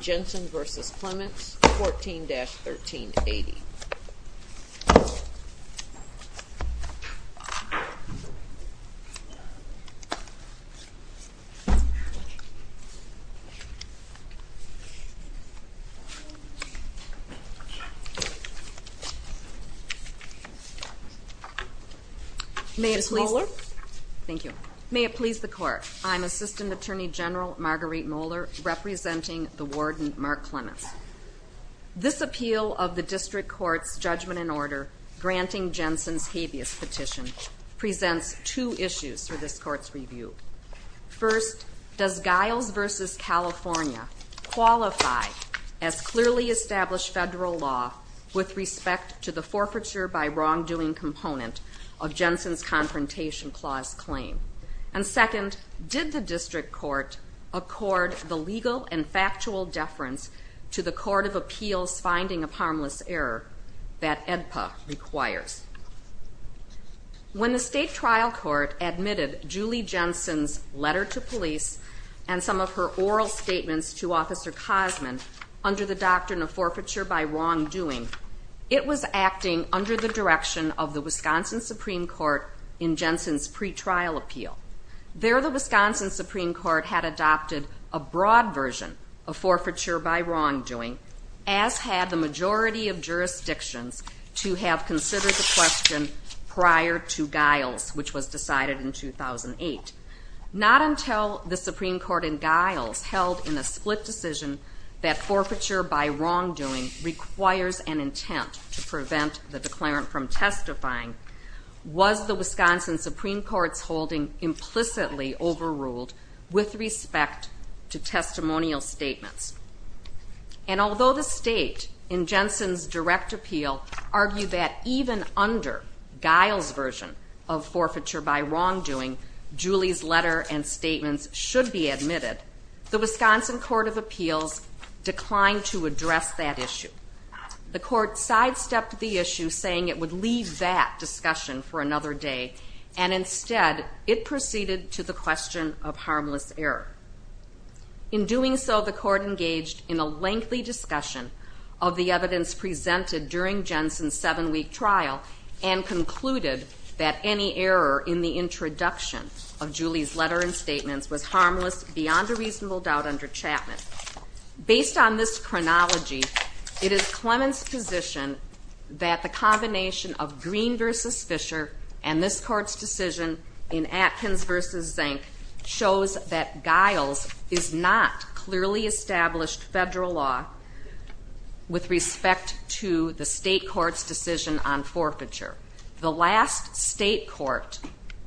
Jensen v. Clements, 14-1380. May it please the court, I'm Assistant Attorney General Marguerite Moeller, representing the Warden Marc Clements. This appeal of the District Court's Judgment in Order granting Jensen's habeas petition presents two issues for this Court's review. First, does Giles v. California qualify as clearly established federal law with respect to the forfeiture by wrongdoing component of Jensen's Confrontation Clause claim? And second, did the District Court accord the legal and factual deference to the Court of Appeals' finding of harmless error that AEDPA requires? When the State Trial Court admitted Julie Jensen's letter to police and some of her oral statements to Officer Cosman under the doctrine of forfeiture by wrongdoing, it was There the Wisconsin Supreme Court had adopted a broad version of forfeiture by wrongdoing, as had the majority of jurisdictions, to have considered the question prior to Giles, which was decided in 2008. Not until the Supreme Court in Giles held in a split decision that forfeiture by wrongdoing requires an intent to prevent the declarant from testifying, was the Wisconsin Supreme Court's holding implicitly overruled with respect to testimonial statements. And although the State, in Jensen's direct appeal, argued that even under Giles' version of forfeiture by wrongdoing, Julie's letter and statements should be admitted, the Wisconsin Court of Appeals declined to address that issue. The Court sidestepped the issue, saying it would leave that discussion for another day and instead it proceeded to the question of harmless error. In doing so, the Court engaged in a lengthy discussion of the evidence presented during Jensen's seven-week trial and concluded that any error in the introduction of Julie's letter and statements was harmless beyond a reasonable doubt under Chapman. Based on this chronology, it is Clement's position that the combination of Green v. Fischer and this Court's decision in Atkins v. Zank shows that Giles is not clearly established federal law with respect to the state court's decision on forfeiture. The last state court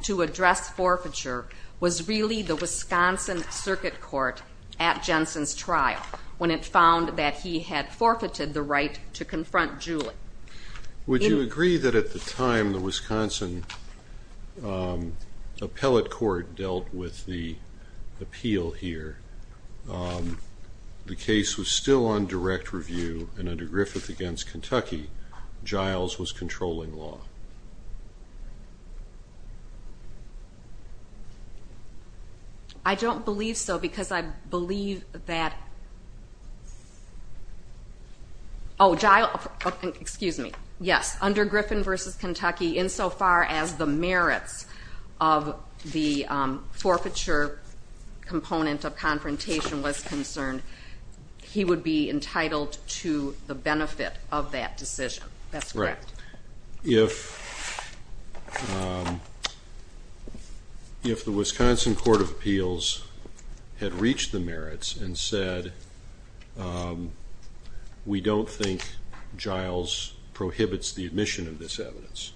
to address forfeiture was really the Wisconsin Circuit Court at Jensen's trial, when it found that he had forfeited the right to confront Julie. Would you agree that at the time the Wisconsin Appellate Court dealt with the appeal here, the case was still on direct review and under Griffith v. Kentucky, Giles was controlling law? I don't believe so, because I believe that Oh, Giles, excuse me, yes, under Griffith v. Kentucky, insofar as the merits of the forfeiture component of confrontation was concerned, he would be entitled to the benefit of that decision, that's correct. If the Wisconsin Court of Appeals had reached the merits and said, we don't think Giles prohibits the admission of this evidence,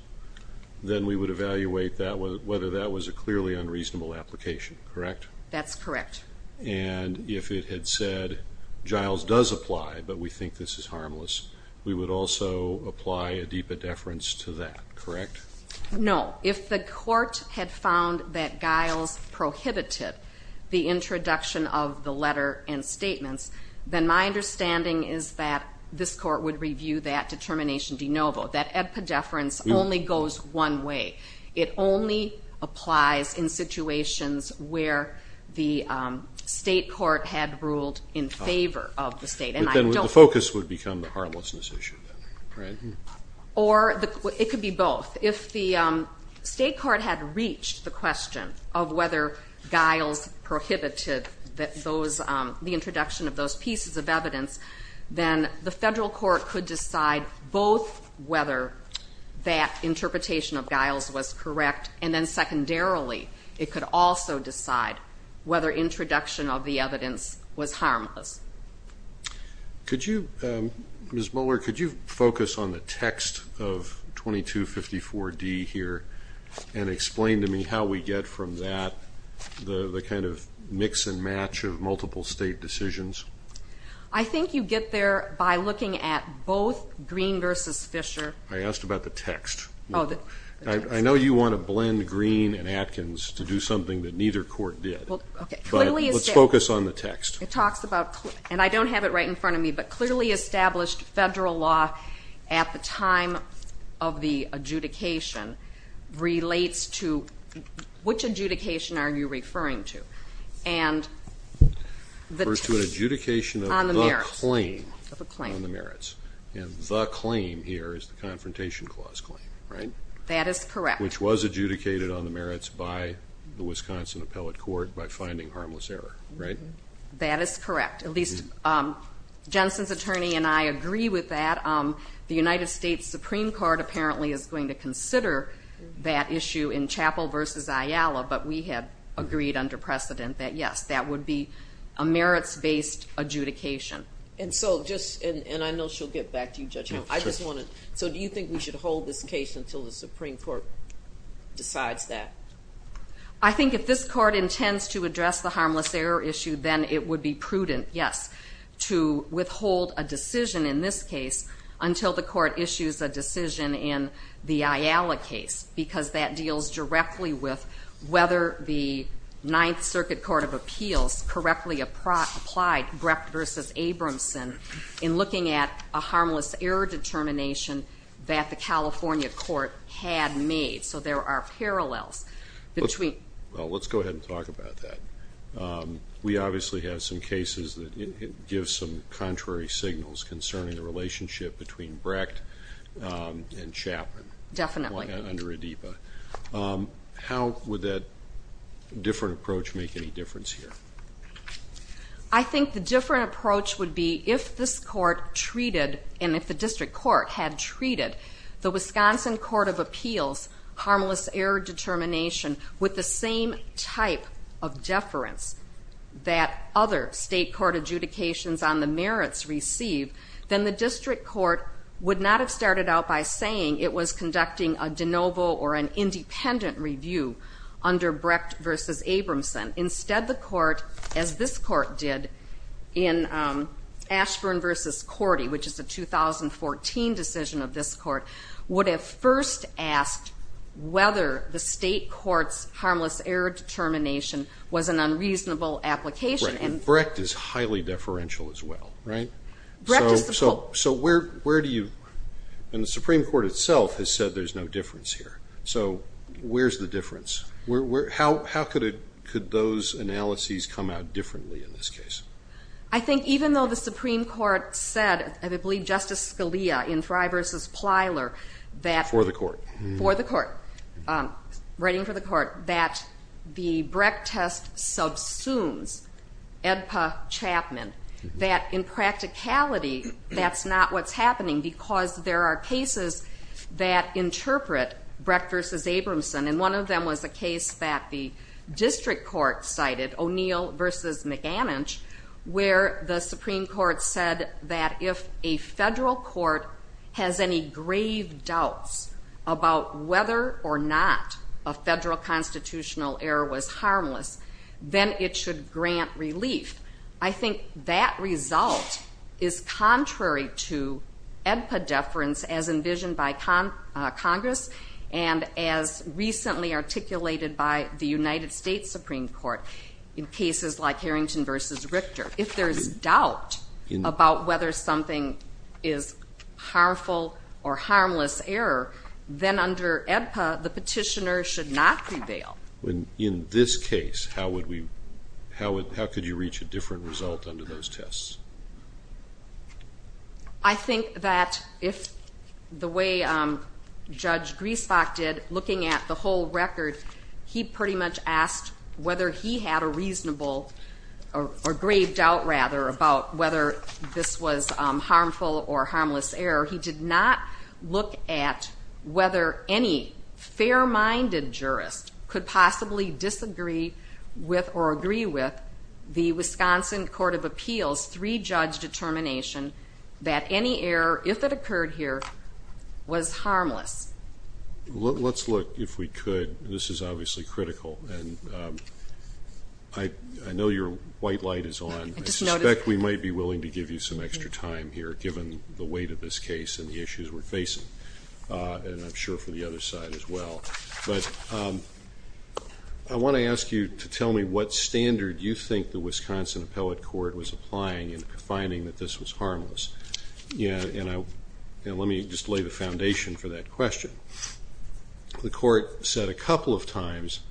then we would evaluate whether that was a clearly unreasonable application, correct? That's correct. And if it had said, Giles does apply, but we think this is harmless, we would also apply a de-pedefrance to that, correct? No, if the court had found that Giles prohibited the introduction of the letter and statements, then my understanding is that this court would review that determination de novo, that de-pedefrance only goes one way. It only applies in situations where the state court had ruled in favor of the state. But then the focus would become the harmlessness issue, right? Or it could be both. If the state court had reached the question of whether Giles prohibited the introduction of those pieces of evidence, then the federal court could decide both whether that interpretation of Giles was correct, and then secondarily, it could also decide whether introduction of the evidence was harmless. Could you, Ms. Mueller, could you focus on the text of 2254D here and explain to me how we get from that the kind of mix and match of multiple state decisions? I think you get there by looking at both Greene versus Fisher. I asked about the text. I know you want to blend Greene and Atkins to do something that neither court did, but let's focus on the text. It talks about, and I don't have it right in front of me, but clearly established federal law at the time of the adjudication relates to, which adjudication are you referring to? And the- First to an adjudication of the claim on the merits. And the claim here is the Confrontation Clause claim, right? That is correct. Which was adjudicated on the merits by the Wisconsin Appellate Court by finding harmless error, right? That is correct. At least, Jensen's attorney and I agree with that. The United States Supreme Court apparently is going to consider that issue in Chappell versus Ayala, but we had agreed under precedent that yes, that would be a merits-based adjudication. And so just, and I know she'll get back to you, Judge Hill. I just wanted, so do you think we should hold this case until the Supreme Court decides that? I think if this court intends to address the harmless error issue, then it would be prudent, yes, to withhold a decision in this case until the court issues a decision in the Ayala case. Because that deals directly with whether the Ninth Circuit Court of Appeals correctly applied Brecht versus Abramson in looking at a harmless error determination that the California court had made. So there are parallels between- Well, let's go ahead and talk about that. We obviously have some cases that give some contrary signals concerning the relationship between Brecht and Chapman. Definitely. Under Adipa. How would that different approach make any difference here? I think the different approach would be if this court treated, and if the district court had treated, the Wisconsin Court of Appeals harmless error determination with the same type of deference that other state court adjudications on the merits receive, then the district court would not have started out by saying it was conducting a de novo or an independent review under Brecht versus Abramson. Instead, the court, as this court did, in Ashburn versus Cordy, which is a 2014 decision of this court, would have first asked whether the state court's harmless error determination was an unreasonable application. And Brecht is highly deferential as well, right? Brecht is the pole. So where do you, and the Supreme Court itself has said there's no difference here. So where's the difference? How could those analyses come out differently in this case? I think even though the Supreme Court said, I believe Justice Scalia in Frye versus Plyler that- For the court. For the court. Writing for the court, that the Brecht test subsumes Adipa-Chapman. That in practicality, that's not what's happening because there are cases that interpret Brecht versus Abramson. And one of them was a case that the district court cited, O'Neill versus McAninch, where the Supreme Court said that if a federal court has any grave doubts about whether or not a federal constitutional error was harmless, then it should grant relief. I think that result is contrary to ADPA deference as envisioned by Congress and as recently articulated by the United States Supreme Court. In cases like Harrington versus Richter, if there's doubt about whether something is harmful or harmless error, then under ADPA, the petitioner should not prevail. In this case, how would we, how could you reach a different result under those tests? I think that if the way Judge Griesbach did, looking at the whole record, he pretty much asked whether he had a reasonable, or grave doubt rather, about whether this was harmful or harmless error. He did not look at whether any fair-minded jurist could possibly disagree with or agree with the Wisconsin Court of Appeals three-judge determination that any error, if it occurred here, was harmless. Let's look, if we could, this is obviously critical, and I know your white light is on. I suspect we might be willing to give you some extra time here, given the weight of this case and the issues we're facing, and I'm sure for the other side as well. But I want to ask you to tell me what standard you think the Wisconsin Appellate Court was applying in finding that this was harmless, and let me just lay the foundation for that question. The court said a couple of times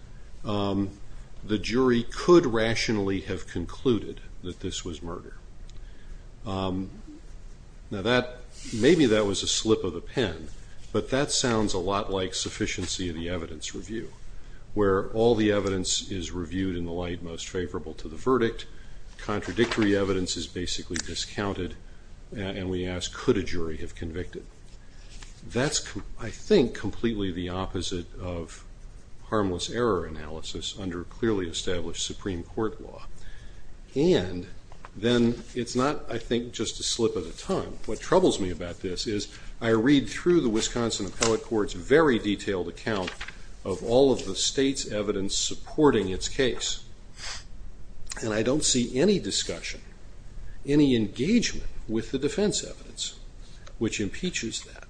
the jury could rationally have concluded that this was murder. Maybe that was a slip of the pen, but that sounds a lot like sufficiency of the evidence review, where all the evidence is reviewed in the light most favorable to the verdict. Contradictory evidence is basically discounted, and we ask, could a jury have convicted? That's, I think, completely the opposite of harmless error analysis under clearly established Supreme Court law. And then it's not, I think, just a slip of the tongue. What troubles me about this is I read through the Wisconsin Appellate Court's very detailed account of all of the state's evidence supporting its case, and I don't see any discussion, any engagement with the defense evidence, which impeaches that.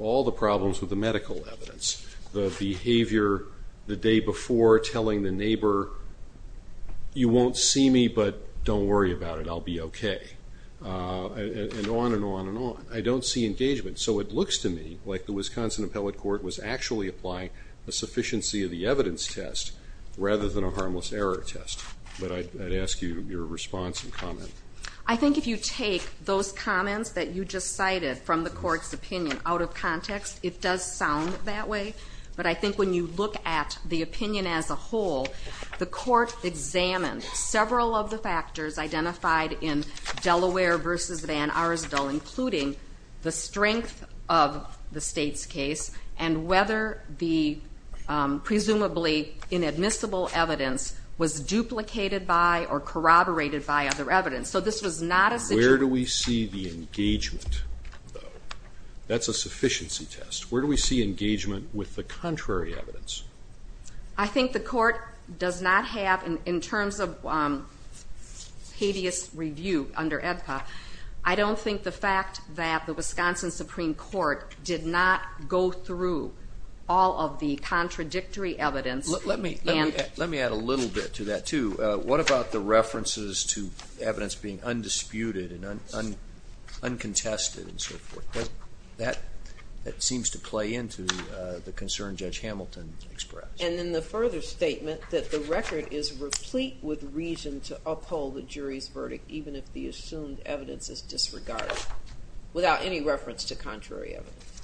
All the problems with the medical evidence, the behavior the day before telling the neighbor, you won't see me, but don't worry about it, I'll be okay, and on and on and on. I don't see engagement. So it looks to me like the Wisconsin Appellate Court was actually applying a sufficiency of the evidence test rather than a harmless error test, but I'd ask you your response and comment. I think if you take those comments that you just cited from the court's opinion out of context, it does sound that way, but I think when you look at the opinion as a whole, the court examined several of the factors identified in Delaware versus Van Arsdell, including the strength of the state's case and whether the presumably inadmissible evidence was duplicated by or corroborated by other evidence. So this was not a situation- Where do we see the engagement? That's a sufficiency test. Where do we see engagement with the contrary evidence? I think the court does not have, in terms of habeas review under EDPA, I don't think the fact that the Wisconsin Supreme Court did not go through all of the contradictory evidence and- Let me add a little bit to that, too. What about the references to evidence being undisputed and uncontested and so forth? That seems to play into the concern Judge Hamilton expressed. And then the further statement that the record is replete with reason to uphold the jury's verdict, even if the assumed evidence is disregarded, without any reference to contrary evidence.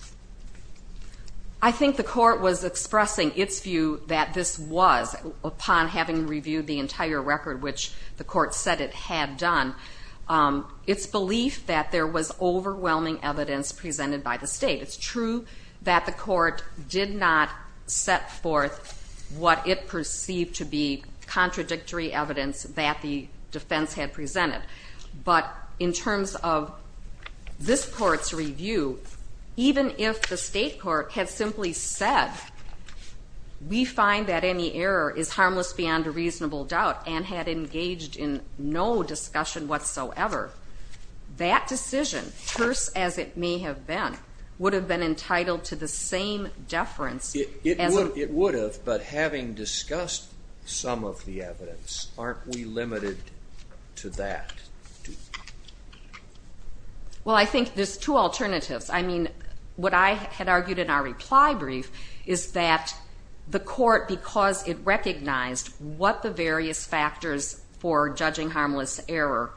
I think the court was expressing its view that this was, upon having reviewed the entire record, which the court said it had done, its belief that there was overwhelming evidence presented by the state. It's true that the court did not set forth what it perceived to be contradictory evidence that the defense had presented. But in terms of this court's review, even if the state court had simply said, we find that any error is harmless beyond a reasonable doubt, and had engaged in no discussion whatsoever, that decision, terse as it may have been, would have been entitled to the same deference as- It would have, but having discussed some of the evidence, aren't we limited to that? Well, I think there's two alternatives. I mean, what I had argued in our reply brief is that the court, because it recognized what the various factors for judging harmless error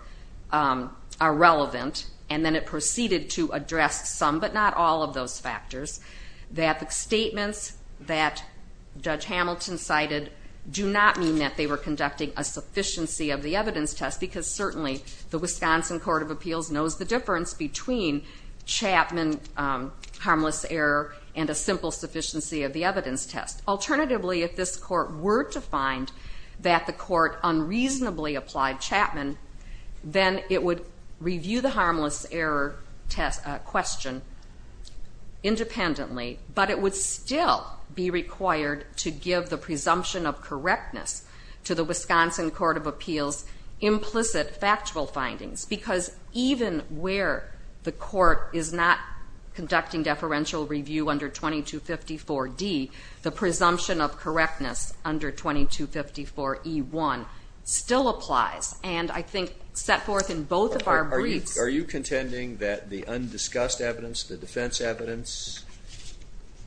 are relevant, and then it proceeded to address some, but not all of those factors, that the statements that Judge Hamilton cited do not mean that they were conducting a sufficiency of the evidence test, because certainly, the Wisconsin Court of Appeals knows the difference between Chapman harmless error and a simple sufficiency of the evidence test. Alternatively, if this court were to find that the court unreasonably applied Chapman, then it would review the harmless error question independently, but it would still be required to give the presumption of correctness to the Wisconsin Court of Appeals implicit factual findings, because even where the court is not conducting deferential review under 2254D, the presumption of correctness under 2254E1 still applies, and I think set forth in both of our briefs- Are you contending that the undiscussed evidence, the defense evidence,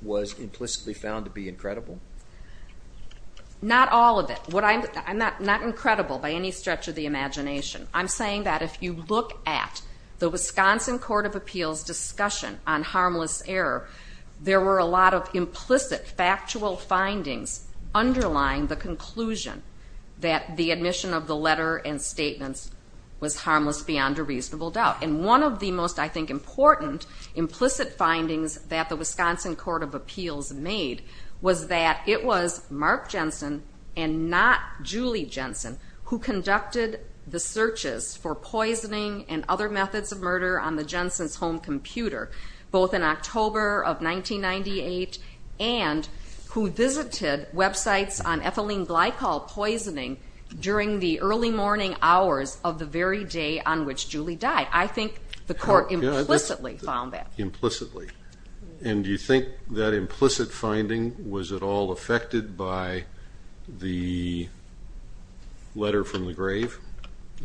was implicitly found to be incredible? Not all of it. I'm not incredible by any stretch of the imagination. I'm saying that if you look at the Wisconsin Court of Appeals' discussion on harmless error, there were a lot of implicit factual findings underlying the conclusion that the admission of the letter and statements was harmless beyond a reasonable doubt, and one of the most, I think, important implicit findings that the Wisconsin Court of Appeals made was that it was Mark Jensen and not Julie Jensen who conducted the searches for poisoning and other methods of murder on the Jensen's home computer, both in October of 1998 and who visited websites on ethylene glycol poisoning during the early morning hours of the very day on which Julie died. I think the court implicitly found that. Implicitly. And do you think that implicit finding was at all affected by the letter from the grave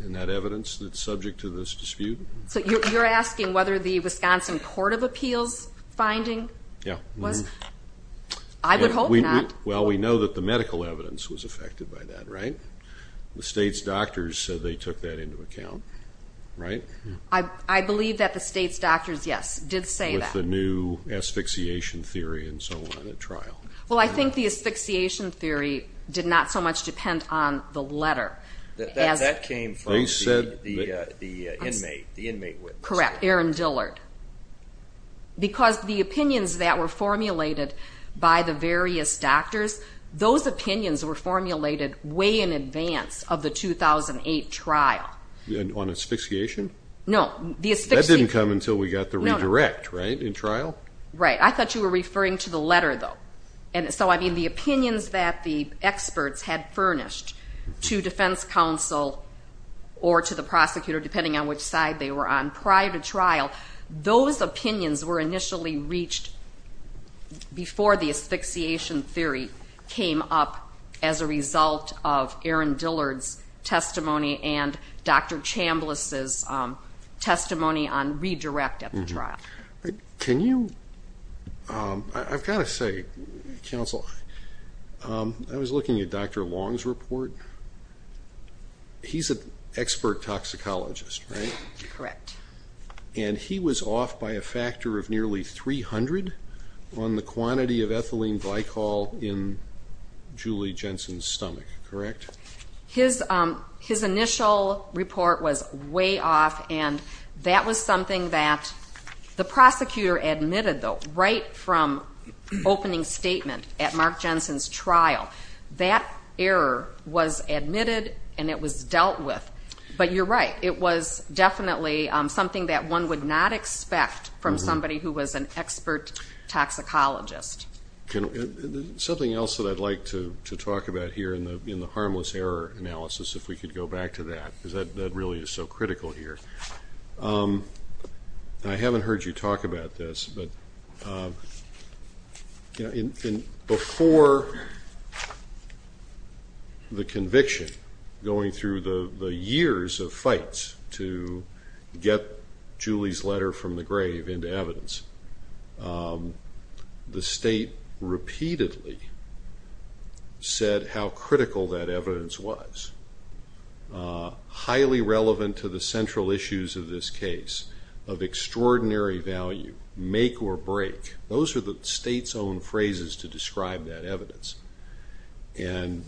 and that evidence that's subject to this dispute? So you're asking whether the Wisconsin Court of Appeals' finding was? Yeah. I would hope not. Well, we know that the medical evidence was affected by that, right? The state's doctors said they took that into account, right? I believe that the state's doctors, yes, did say that. With the new asphyxiation theory and so on at trial. Well, I think the asphyxiation theory did not so much depend on the letter. That came from the inmate, the inmate witness. Correct. Aaron Dillard. Because the opinions that were formulated by the various doctors, those opinions were formulated way in advance of the 2008 trial. On asphyxiation? No. That didn't come until we got the redirect, right, in trial? Right. I thought you were referring to the letter, though. And so, I mean, the opinions that the experts had furnished to defense counsel or to the prosecutor, depending on which side they were on prior to trial, those opinions were initially reached before the asphyxiation theory came up as a result of Aaron Dillard's testimony and Dr. Chambliss' testimony on redirect at the trial. Can you, I've got to say, counsel, I was looking at Dr. Long's report. He's an expert toxicologist, right? Correct. And he was off by a factor of nearly 300 on the quantity of ethylene glycol in Julie Jensen's stomach, correct? His initial report was way off, and that was something that the prosecutor admitted, though, right from opening statement at Mark Jensen's trial. That error was admitted, and it was dealt with. But you're right. It was definitely something that one would not expect from somebody who was an expert toxicologist. Something else that I'd like to talk about here in the harmless error analysis, if we could go back to that, because that really is so critical here. I haven't heard you talk about this, but before the conviction, going through the years of fights to get Julie's letter from the grave into evidence, the state repeatedly said how critical that evidence was, highly relevant to the central issues of this case, of extraordinary value, make or break. Those are the state's own phrases to describe that evidence. And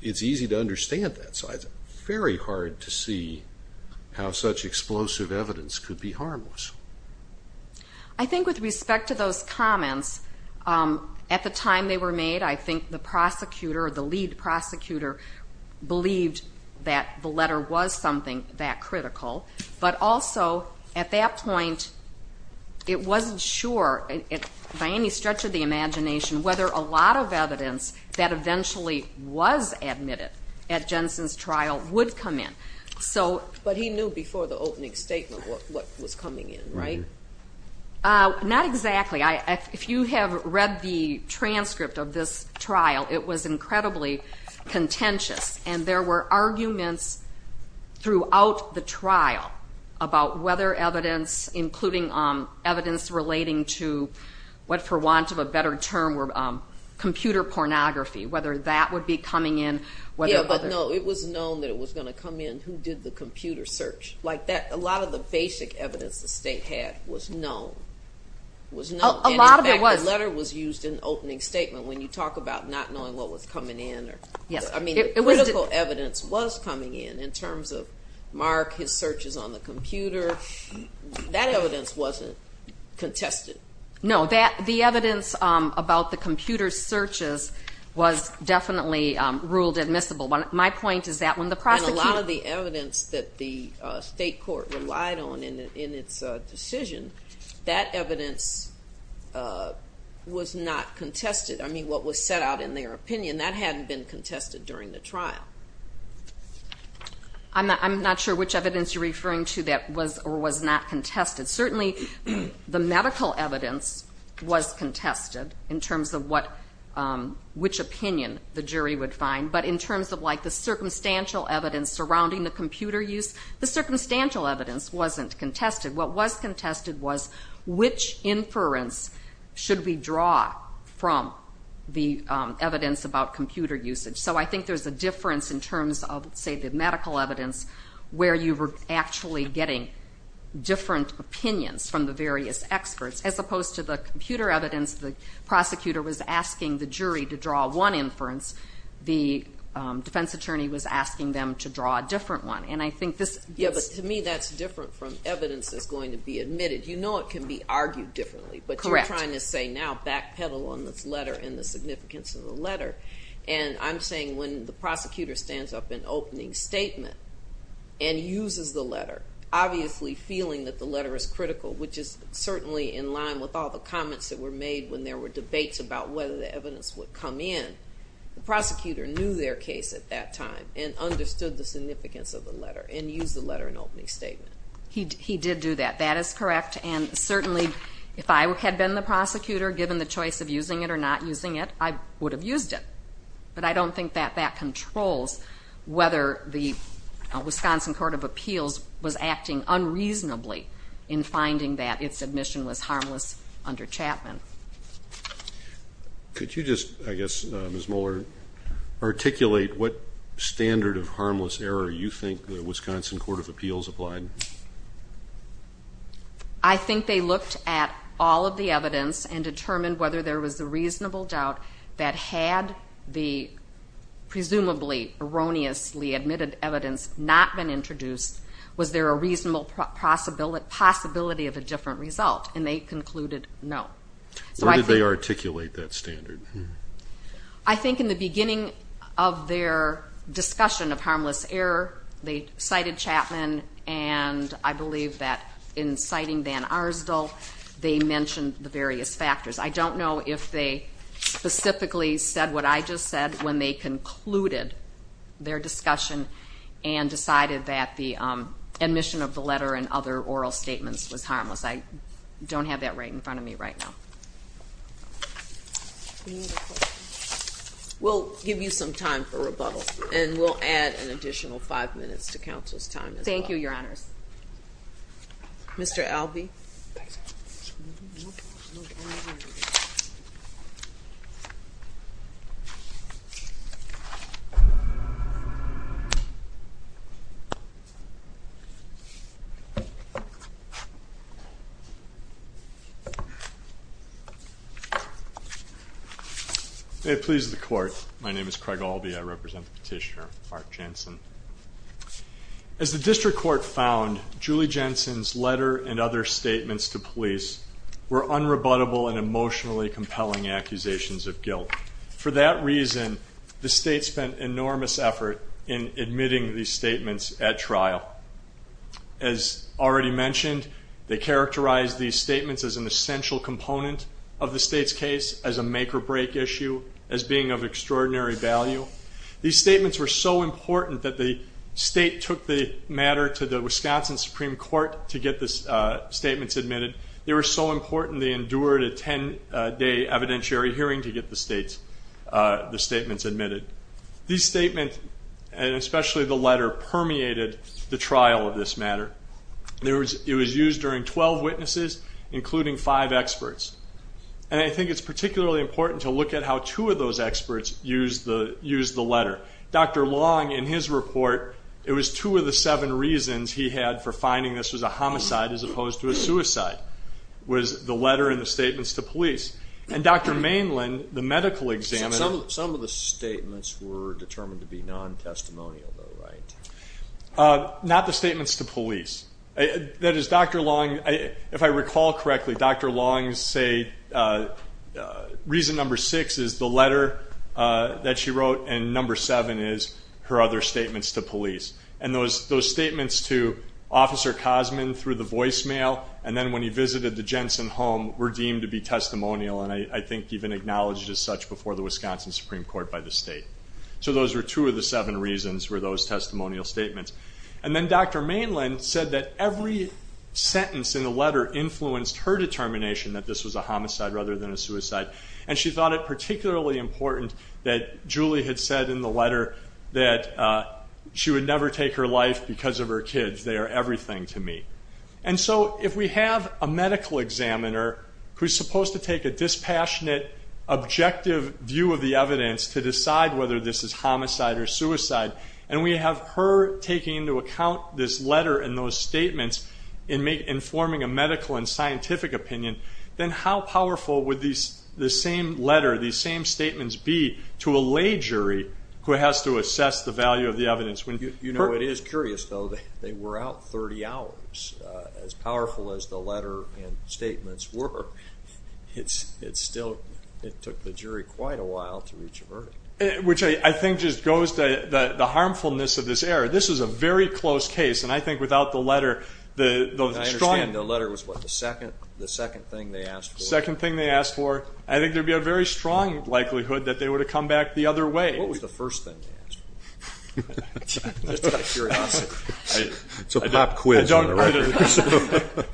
it's easy to understand that. It's very hard to see how such explosive evidence could be harmless. I think with respect to those comments, at the time they were made, I think the prosecutor or the lead prosecutor believed that the letter was something that critical. But also, at that point, it wasn't sure, by any stretch of the imagination, whether a lot of evidence that eventually was admitted at Jensen's trial would come in. So. But he knew before the opening statement what was coming in, right? Not exactly. If you have read the transcript of this trial, it was incredibly contentious. And there were arguments throughout the trial about whether evidence, including evidence relating to what for want of a better term were computer pornography, whether that would be coming in. Yeah, but no, it was known that it was going to come in who did the computer search. Like that, a lot of the basic evidence the state had was known. Was known. And in fact, the letter was used in the opening statement when you talk about not knowing what was coming in. I mean, critical evidence was coming in, in terms of Mark, his searches on the computer. That evidence wasn't contested. No, the evidence about the computer searches was definitely ruled admissible. My point is that when the prosecutor. And a lot of the evidence that the state court relied on in its decision, that evidence was not contested. I mean, what was set out in their opinion, that hadn't been contested during the trial. I'm not sure which evidence you're referring to that was or was not contested. Certainly, the medical evidence was contested in terms of what, which opinion the jury would find. But in terms of like the circumstantial evidence surrounding the computer use, the circumstantial evidence wasn't contested. What was contested was which inference should we draw from the evidence about computer usage. So I think there's a difference in terms of, say, the medical evidence where you were actually getting different opinions from the various experts, as opposed to the computer evidence. The prosecutor was asking the jury to draw one inference. The defense attorney was asking them to draw a different one. And I think this. Yeah, but to me, that's different from evidence that's going to be admitted. You know it can be argued differently. Correct. And I'm saying when the prosecutor stands up in opening statement and uses the letter, obviously feeling that the letter is critical, which is certainly in line with all the comments that were made when there were debates about whether the evidence would come in. The prosecutor knew their case at that time and understood the significance of the letter and used the letter in opening statement. He did do that. That is correct. And certainly, if I had been the prosecutor, given the choice of using it or not using it, I would have used it. But I don't think that that controls whether the Wisconsin Court of Appeals was acting unreasonably in finding that its admission was harmless under Chapman. Could you just, I guess, Ms. Mohler, articulate what standard of harmless error you think the Wisconsin Court of Appeals applied? I think they looked at all of the evidence and determined whether there was a reasonable doubt that had the presumably erroneously admitted evidence not been introduced. Was there a reasonable possibility of a different result? And they concluded no. So I think... Where did they articulate that standard? I think in the beginning of their discussion of harmless error, they cited Chapman and I believe that in citing Van Arsdell, they mentioned the various factors. I don't know if they specifically said what I just said when they concluded their discussion and decided that the admission of the letter and other oral statements was harmless. I don't have that right in front of me right now. We'll give you some time for rebuttal. And we'll add an additional five minutes to counsel's time as well. Thank you, Your Honors. Mr. Albee. May it please the Court. My name is Craig Albee. I represent the petitioner, Mark Jansen. As the district court found, Julie Jansen's letter and other statements to police were unrebuttable and emotionally compelling accusations of guilt. For that reason, the state spent enormous effort in admitting these statements at trial. As already mentioned, they characterized these statements as an essential component of the state's case, as a make-or-break issue, as being of extraordinary value. These statements were so important that the state took the matter to the Wisconsin Supreme Court to get the statements admitted. They were so important, they endured a 10-day evidentiary hearing to get the statements admitted. These statements, and especially the letter, permeated the trial of this matter. It was used during 12 witnesses, including five experts. And I think it's particularly important to look at how two of those experts used the letter. Dr. Long, in his report, it was two of the seven reasons he had for finding this was a homicide as opposed to a suicide, was the letter and the statements to police. And Dr. Mainland, the medical examiner. Some of the statements were determined to be non-testimonial, though, right? Not the statements to police. That is, Dr. Long, if I recall correctly, Dr. Long said reason number six is the letter that she wrote, and number seven is her other statements to police. And those statements to Officer Cosman through the voicemail, and then when he visited the Jensen home, were deemed to be testimonial, and I think even acknowledged as such before the Wisconsin Supreme Court by the state. So those were two of the seven reasons were those testimonial statements. And then Dr. Mainland said that every sentence in the letter influenced her determination that this was a homicide rather than a suicide. And she thought it particularly important that Julie had said in the letter that she would never take her life because of her kids. They are everything to me. And so if we have a medical examiner who's supposed to take a dispassionate, and we have her taking into account this letter and those statements in forming a medical and scientific opinion, then how powerful would the same letter, these same statements be to a lay jury who has to assess the value of the evidence? You know, it is curious, though. They were out 30 hours, as powerful as the letter and statements were. It's still, it took the jury quite a while to reach a verdict. Which I think just goes to the harmfulness of this error. This is a very close case. And I think without the letter, the strong. I understand the letter was what, the second thing they asked for? Second thing they asked for. I think there'd be a very strong likelihood that they would have come back the other way. What was the first thing they asked for? Just out of curiosity. It's a pop quiz on the record.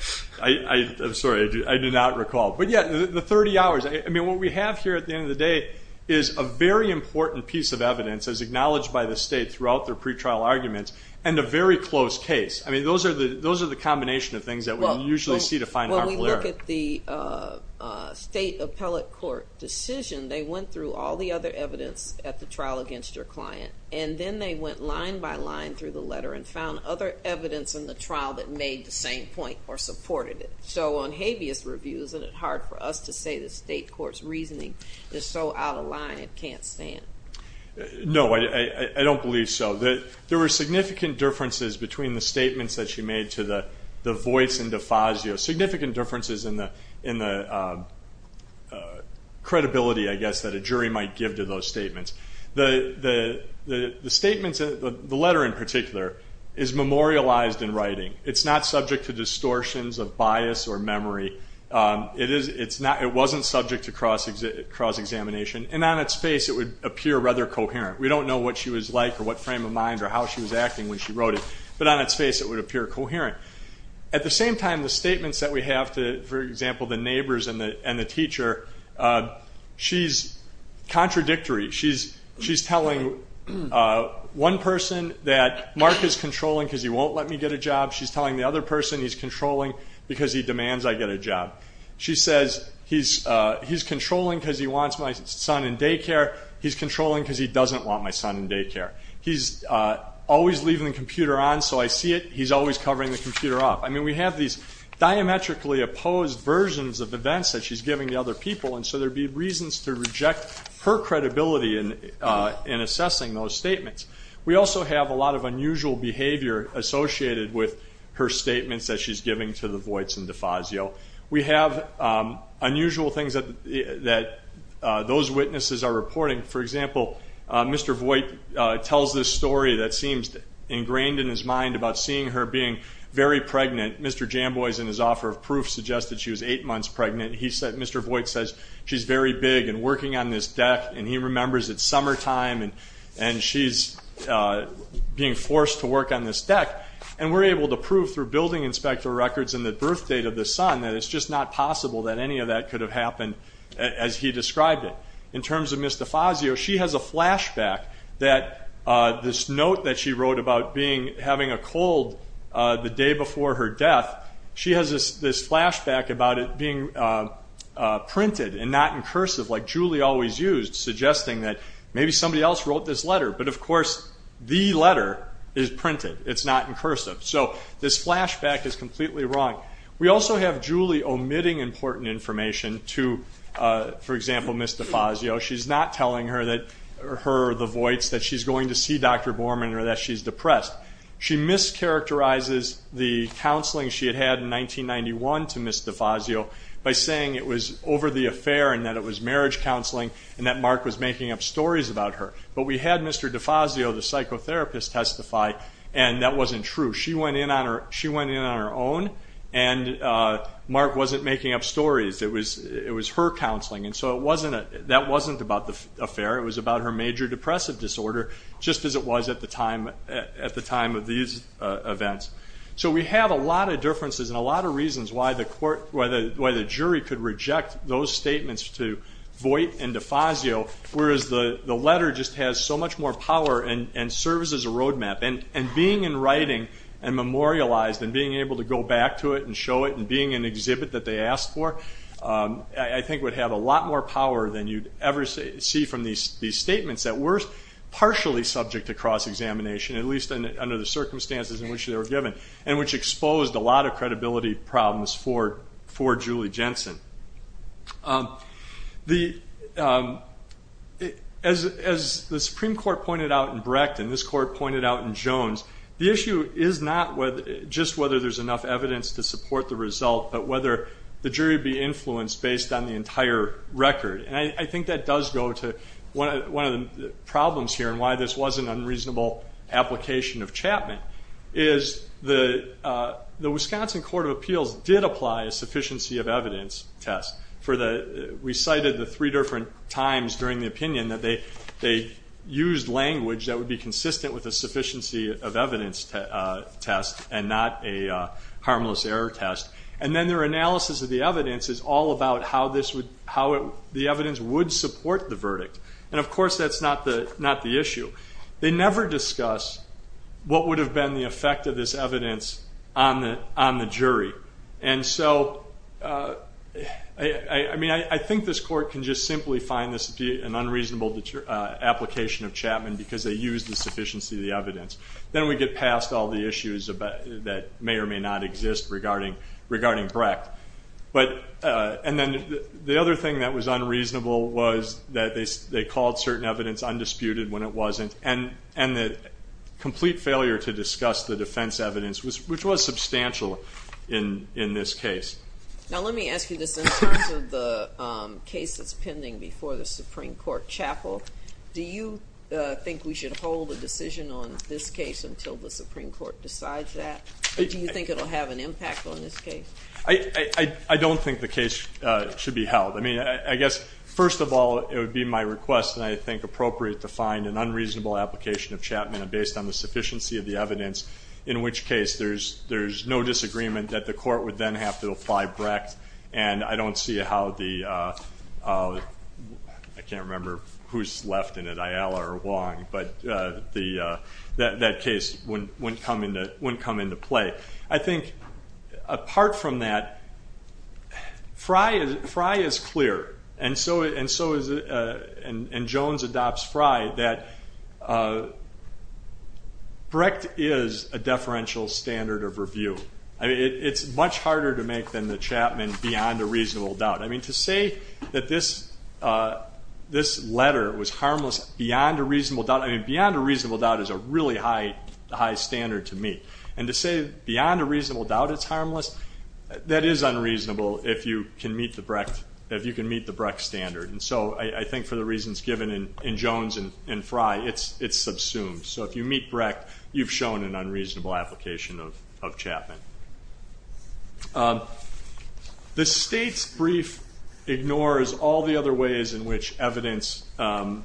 I'm sorry. I do not recall. But yeah, the 30 hours. I mean, what we have here at the end of the day is a very important piece of evidence as acknowledged by the state throughout their pretrial arguments. And a very close case. I mean, those are the combination of things that we usually see to find harmful error. When we look at the state appellate court decision, they went through all the other evidence at the trial against their client. And then they went line by line through the letter and found other evidence in the trial that made the same point or supported it. So on habeas review, isn't it hard for us to say the state court's reasoning is so out of line it can't stand? No, I don't believe so. There were significant differences between the statements that she made to the voice in Defazio. Significant differences in the credibility, I guess, that a jury might give to those statements. The statements, the letter in particular, is memorialized in writing. It's not subject to distortions of bias or memory. It wasn't subject to cross-examination. And on its face, it would appear rather coherent. We don't know what she was like or what frame of mind or how she was acting when she wrote it. But on its face, it would appear coherent. At the same time, the statements that we have to, for example, the neighbors and the teacher, she's contradictory. She's telling one person that Mark is controlling because he won't let me get a job. She's telling the other person he's controlling because he demands I get a job. She says he's controlling because he wants my son in daycare. He's controlling because he doesn't want my son in daycare. He's always leaving the computer on so I see it. He's always covering the computer up. I mean, we have these diametrically opposed versions of events that she's giving to other people and so there'd be reasons to reject her credibility in assessing those statements. We also have a lot of unusual behavior associated with her statements that she's giving to the Voights and DeFazio. We have unusual things that those witnesses are reporting. For example, Mr. Voight tells this story that seems ingrained in his mind about seeing her being very pregnant. Mr. Jambois, in his offer of proof, suggested she was eight months pregnant. Mr. Voight says she's very big and working on this deck and he remembers it's summertime and she's being forced to work on this deck and we're able to prove through building inspector records and the birth date of the son that it's just not possible that any of that could have happened as he described it. In terms of Ms. DeFazio, she has a flashback that this note that she wrote about having a cold the day before her death, she has this flashback about it being printed and not incursive like Julie always used, suggesting that maybe somebody else wrote this letter. But of course, the letter is printed. It's not incursive. So this flashback is completely wrong. We also have Julie omitting important information to, for example, Ms. DeFazio. She's not telling her, the Voights, that she's going to see Dr. Borman or that she's depressed. She mischaracterizes the counseling she had had in 1991 to Ms. DeFazio by saying it was over the affair and that it was marriage counseling and that Mark was making up stories about her. But we had Mr. DeFazio, the psychotherapist, testify and that wasn't true. She went in on her own and Mark wasn't making up stories. It was her counseling and so that wasn't about the affair. It was about her major depressive disorder, just as it was at the time of these events. So we have a lot of differences and a lot of reasons why the jury could reject those statements to Voight and DeFazio, whereas the letter just has so much more power and serves as a roadmap. And being in writing and memorialized and being able to go back to it and show it and being an exhibit that they asked for, I think would have a lot more power than you'd ever see from these statements that were partially subject to cross-examination, at least under the circumstances in which they were given, and which exposed a lot of credibility problems for Julie Jensen. As the Supreme Court pointed out in Brecht and this Court pointed out in Jones, the issue is not just whether there's enough evidence to support the result, but whether the jury be influenced based on the entire record. And I think that does go to one of the problems here and why this was an unreasonable application of Chapman, is the Wisconsin Court of Appeals did apply a sufficiency of evidence test. We cited the three different times during the opinion that they used language that would be consistent with a sufficiency of evidence test and not a harmless error test. And then their analysis of the evidence is all about how the evidence would support the verdict. And of course that's not the issue. They never discuss what would have been the effect of this evidence on the jury. And so, I mean, I think this Court can just simply find this to be an unreasonable application of Chapman because they used the sufficiency of the evidence. Then we get past all the issues that may or may not exist regarding Brecht. And then the other thing that was unreasonable was that they called certain evidence undisputed when it wasn't. And the complete failure to discuss the defense evidence, which was substantial in this case. Now let me ask you this. In terms of the case that's pending before the Supreme Court chapel, do you think we should hold a decision on this case until the Supreme Court decides that? Or do you think it will have an impact on this case? I don't think the case should be held. I mean, I guess, first of all, it would be my request and I think appropriate to find an unreasonable application of Chapman based on the sufficiency of the evidence, in which case there's no disagreement that the Court would then have to apply Brecht. And I don't see how the, I can't remember who's left in it, Ayala or Wong, but that case wouldn't come into play. I think apart from that, Frye is clear and so is, and Jones adopts Frye, that Brecht is a deferential standard of review. It's much harder to make than the Chapman beyond a reasonable doubt. I mean, to say that this letter was harmless beyond a reasonable doubt, I mean, beyond a reasonable doubt is a really high standard to me. And to say beyond a reasonable doubt it's harmless, that is unreasonable if you can meet the Brecht, if you can meet the Brecht standard. And so I think for the reasons given in Jones and Frye, it's subsumed. So if you meet Brecht, you've shown an unreasonable application of Chapman. The State's brief ignores all the other ways in which evidence can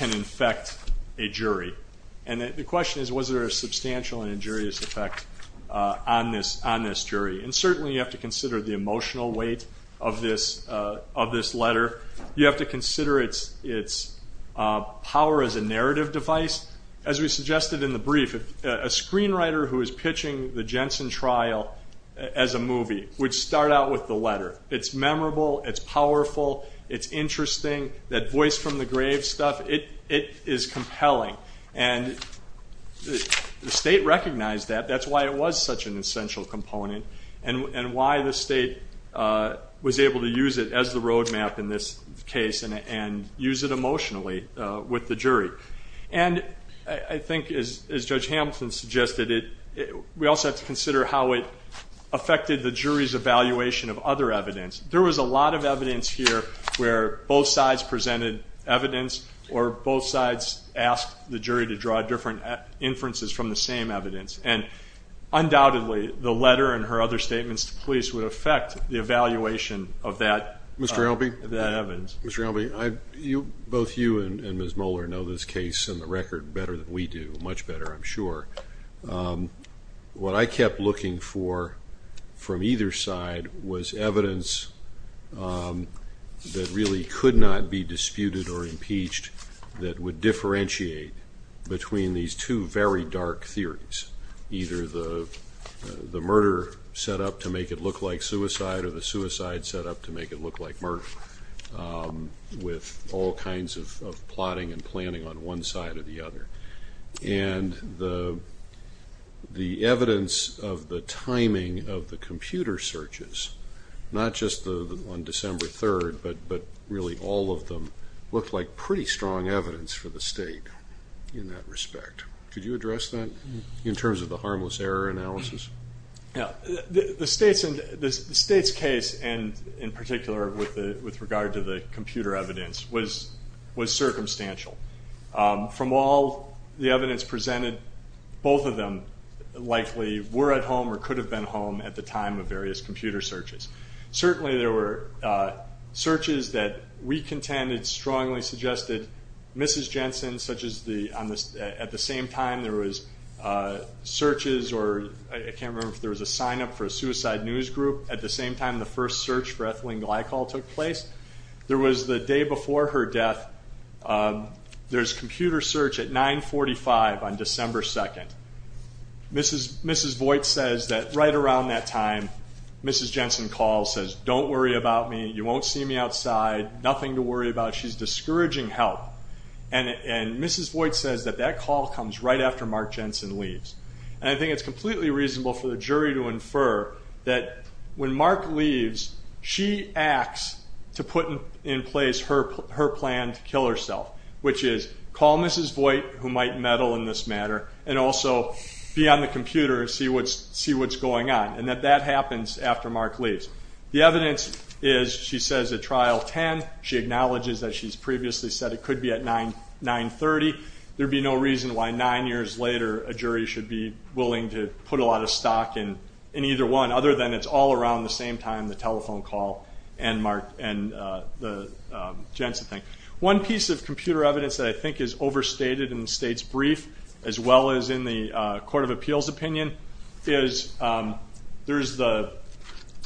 infect a jury. And the question is, was there a substantial and injurious effect on this jury? And certainly you have to consider the emotional weight of this letter. You have to consider its power as a narrative device. As we suggested in the brief, a screenwriter who is pitching the Jensen trial as a movie would start out with the letter. It's memorable, it's powerful, it's interesting. That voice from the grave stuff, it is compelling. And the State recognized that. That's why it was such an essential component and why the State was able to use it as the roadmap in this case and use it emotionally with the jury. And I think as Judge Hamilton suggested, we also have to consider how it affected the jury's evaluation of other evidence. There was a lot of evidence here where both sides presented evidence or both sides asked the jury to draw different inferences from the same evidence. And undoubtedly, the letter and her other statements to police would affect the evaluation of that evidence. Mr. Albee? Mr. Albee, both you and Ms. Moeller know this case on the record better than we do, much better I'm sure. What I kept looking for from either side was evidence that really could not be disputed or impeached that would differentiate between these two very dark theories, either the murder set up to make it look like suicide or the suicide set up to make it look like murder with all kinds of plotting and planning on one side or the other. And the evidence of the timing of the computer searches, not just on December 3rd, but really all of them, looked like pretty strong evidence for the State in that respect. Could you address that in terms of the harmless error analysis? The State's case, and in particular with regard to the computer evidence, was circumstantial. From all the evidence presented, both of them likely were at home or could have been home at the time of various computer searches. Certainly there were searches that we contended strongly suggested Mrs. Jensen, such as at the same time there was searches or I can't remember if there was a sign up for a suicide news group at the same time the first search for Ethelene Glycol took place. There was the day before her death, there's computer search at 945 on December 2nd. Mrs. Voigt says that right around that time, Mrs. Jensen calls, says, don't worry about me, you won't see me outside, nothing to worry about, she's discouraging help. And Mrs. Voigt says that that call comes right after Mark Jensen leaves. And I think it's completely reasonable for the jury to infer that when Mark leaves, she acts to put in place her plan to kill herself, which is call Mrs. Voigt, who might meddle in this matter, and also be on the computer and see what's going on, and that that happens after Mark leaves. The evidence is, she says at trial 10, she acknowledges that she's previously said it could be at 930, there'd be no reason why nine years later a jury should be willing to put a lot of stock in either one, other than it's all around the same time, the telephone call and the Jensen thing. One piece of computer evidence that I think is overstated in the state's brief, as well as in the Court of Appeals opinion, is there's the,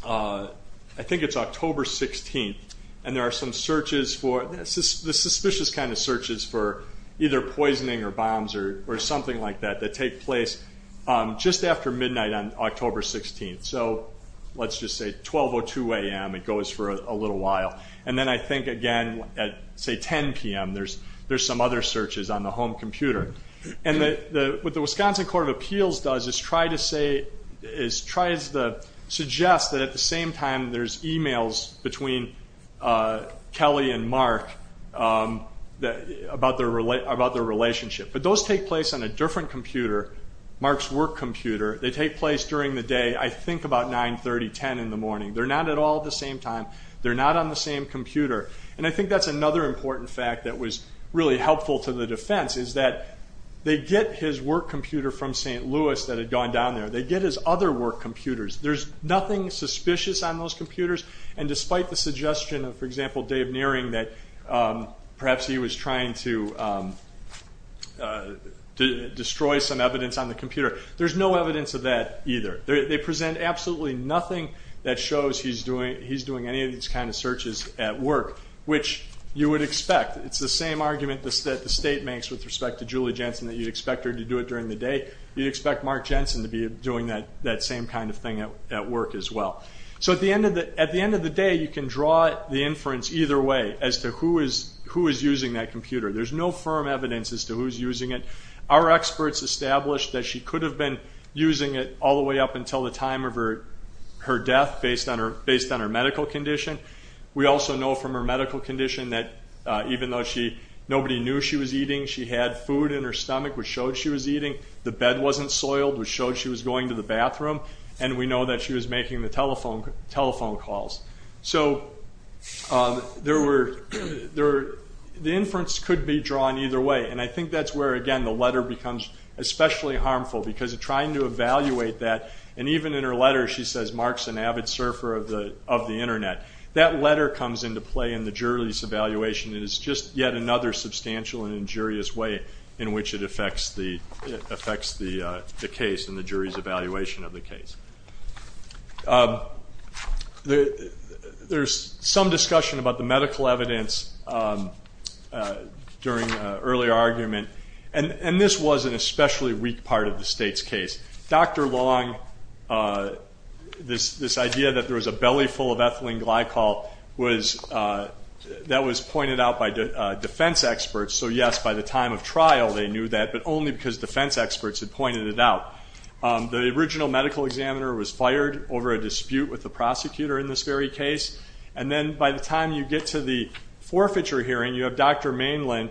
I think it's October 16th, and there are some searches for, the suspicious kind of searches for either poisoning or bombs or something like that, that take place just after midnight on October 16th. So let's just say 12 or 2 a.m., it goes for a little while. And then I think again at, say, 10 p.m., there's some other searches on the home computer. And what the Wisconsin Court of Appeals does is try to say, is try to suggest that at the same time there's emails between Kelly and Mark about their relationship. But those take place on a different computer, Mark's work computer. They take place during the day, I think about 9, 30, 10 in the morning. They're not at all the same time. They're not on the same computer. And I think that's another important fact that was really helpful to the defense, is that they get his work computer from St. Louis that had gone down there. They get his other work computers. There's nothing suspicious on those computers. And despite the suggestion of, for example, Dave Nearing, that perhaps he was trying to destroy some evidence on the computer, there's no evidence of that either. They present absolutely nothing that shows he's doing any of these kind of searches at work, which you would expect. It's the same argument that the state makes with respect to Julie Jensen that you'd expect her to do it during the day. You'd expect Mark Jensen to be doing that same kind of thing at work as well. So at the end of the day, you can draw the inference either way as to who is using that computer. There's no firm evidence as to who's using it. Our experts established that she could have been using it all the way up until the time of her death, based on her medical condition. We also know from her medical condition that even though nobody knew she was eating, she had food in her stomach, which showed she was eating. The bed wasn't soiled, which showed she was going to the bathroom. And we know that she was making the telephone calls. So the inference could be drawn either way. And I think that's where, again, the letter becomes especially harmful, because trying to evaluate that, and even in her letter she says, Mark's an avid surfer of the internet. That letter comes into play in the jury's evaluation, and it's just yet another substantial and injurious way in which it affects the case and the jury's evaluation of the case. There's some discussion about the medical evidence during early argument, and this was an especially weak part of the state's case. Dr. Long, this idea that there was a belly full of ethylene glycol, that was pointed out by defense experts. So yes, by the time of trial they knew that, but only because defense experts had pointed it out. The original medical examiner was fired over a dispute with the prosecutor in this very case. And then by the time you get to the forfeiture hearing, you have Dr. Mainland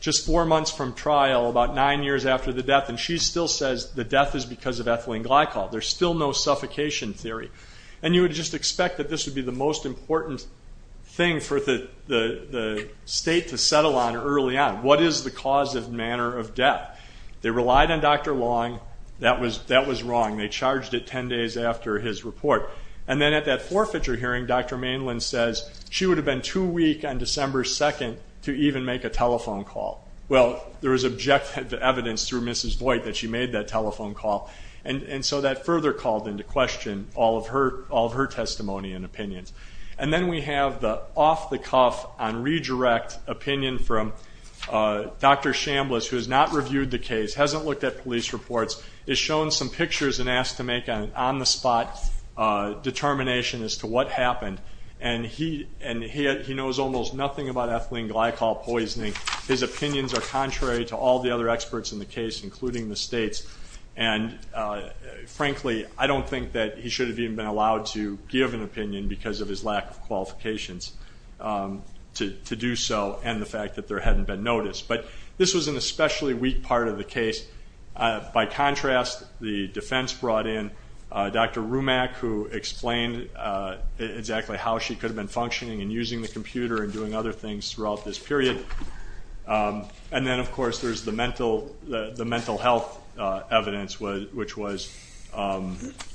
just four months from trial, about nine years after the death, and she still says the death is because of ethylene glycol. There's still no suffocation theory. And you would just expect that this would be the most important thing for the state to settle on early on. What is the cause and manner of death? They relied on Dr. Long. That was wrong. They charged it ten days after his report. And then at that forfeiture hearing, Dr. Mainland says she would have been too weak on December 2nd to even make a telephone call. Well, there was objective evidence through Mrs. Voigt that she made that telephone call, and so that further called into question all of her testimony and opinions. And then we have the off-the-cuff on redirect opinion from Dr. Chambliss, who has not reviewed the case, hasn't looked at police reports, is shown some pictures and asked to make an on-the-spot determination as to what happened. And he knows almost nothing about ethylene glycol poisoning. His opinions are contrary to all the other experts in the case, including the states. And frankly, I don't think that he should have even been allowed to give an opinion because of his lack of qualifications to do so and the fact that there hadn't been notice. But this was an especially weak part of the case. By contrast, the defense brought in Dr. Rumack, who explained exactly how she could have been functioning and using the computer and doing other things throughout this period. And then, of course, there's the mental health evidence, which was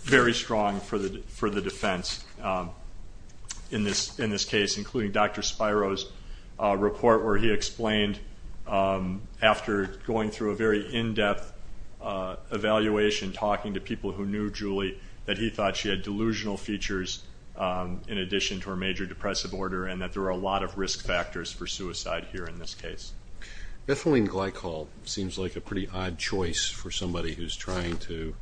very strong for the defense. In this case, including Dr. Spiro's report, where he explained, after going through a very in-depth evaluation, talking to people who knew Julie, that he thought she had delusional features in addition to her major depressive order and that there were a lot of risk factors for suicide here in this case. Ethylene glycol seems like a pretty odd choice for somebody who's trying to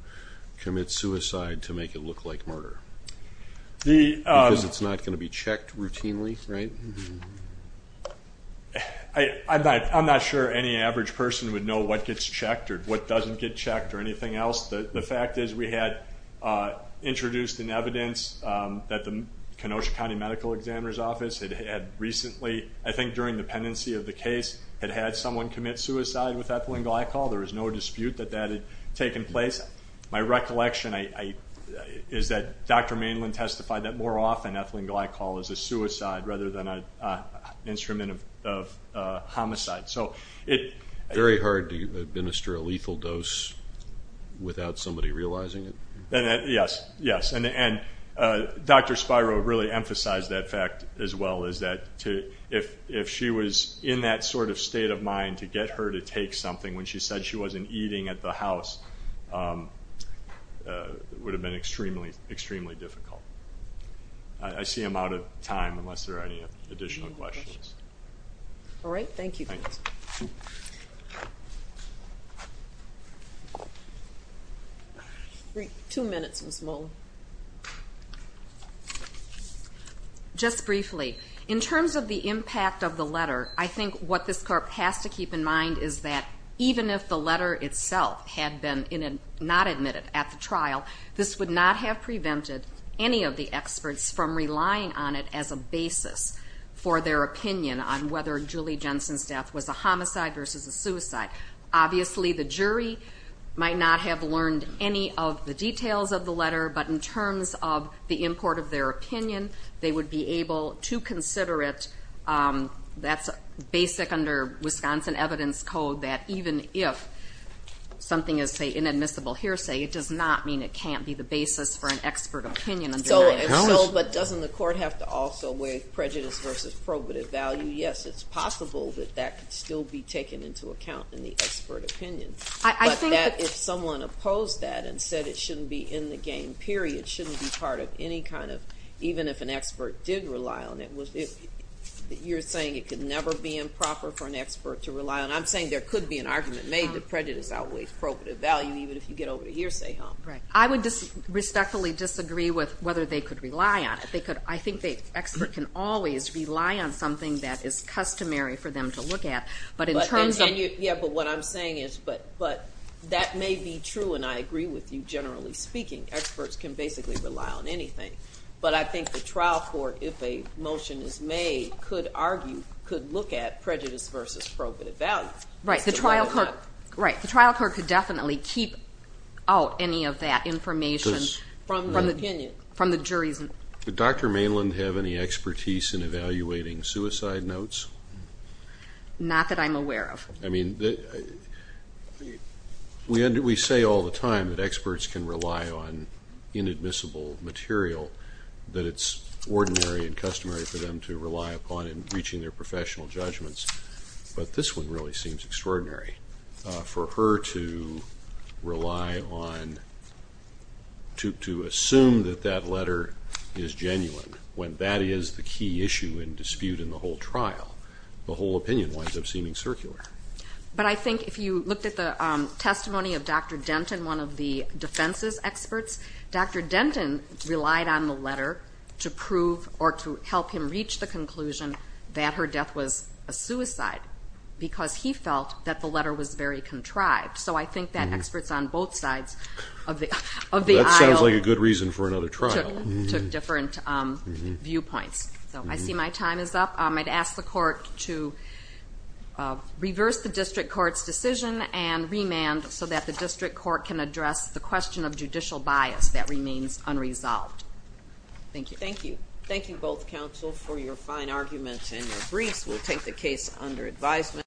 commit suicide to make it look like murder. Because it's not going to be checked routinely, right? I'm not sure any average person would know what gets checked or what doesn't get checked or anything else. The fact is we had introduced in evidence that the Kenosha County Medical Examiner's Office had recently, I think during the pendency of the case, had had someone commit suicide with ethylene glycol. There was no dispute that that had taken place. My recollection is that Dr. Mainland testified that more often ethylene glycol is a suicide rather than an instrument of homicide. Very hard to administer a lethal dose without somebody realizing it. Yes. Yes. And Dr. Spiro really emphasized that fact as well. If she was in that sort of state of mind to get her to take something when she said she wasn't eating at the house, it would have been extremely, extremely difficult. I see I'm out of time unless there are any additional questions. All right. Thank you. Thanks. Two minutes Ms. Mullen. Just briefly. In terms of the impact of the letter, I think what this court has to keep in mind is that even if the letter itself had been not admitted at the trial, this would not have prevented any of the experts from relying on it as a basis for their opinion on whether Julie Jensen's death was a homicide versus a suicide. Obviously the jury might not have learned any of the details of the letter, but in terms of the import of their opinion, they would be able to consider it. That's basic under Wisconsin evidence code that even if something is, say, inadmissible hearsay, it does not mean it can't be the basis for an expert opinion. But doesn't the court have to also weigh prejudice versus probative value? Yes. It's possible that that could still be taken into account in the expert opinion, but that if someone opposed that and said it shouldn't be in the game, period, shouldn't be part of any kind of, even if an expert did rely on it, you're saying it could never be improper for an expert to rely on it. I'm saying there could be an argument made that prejudice outweighs probative value even if you get over to hearsay, huh? Right. I would respectfully disagree with whether they could rely on it. I think the expert can always rely on something that is customary for them to look at, but in terms of- Yeah, but what I'm saying is, but that may be true, and I agree with you generally speaking. Experts can basically rely on anything. But I think the trial court, if a motion is made, could argue, could look at prejudice versus probative value. Right. The trial court- So why not? Right. The trial court could definitely keep out any of that information from the jury's- From the opinion. Does Dr. Mainland have any expertise in evaluating suicide notes? Not that I'm aware of. I mean, we say all the time that experts can rely on inadmissible material, that it's ordinary and customary for them to rely upon in reaching their professional judgments. But this one really seems extraordinary. For her to rely on, to assume that that letter is genuine when that is the key issue in dispute in the whole trial, the whole opinion winds up seeming circular. But I think if you looked at the testimony of Dr. Denton, one of the defense's experts, Dr. Denton relied on the letter to prove or to help him reach the conclusion that her death was a suicide because he felt that the letter was very contrived. So I think that experts on both sides of the aisle- That sounds like a good reason for another trial. Took different viewpoints. So I see my time is up. I'd ask the court to reverse the district court's decision and remand so that the district court can address the question of judicial bias that remains unresolved. Thank you. Thank you. Thank you both, counsel, for your fine arguments and your briefs. We'll take the case under advisement.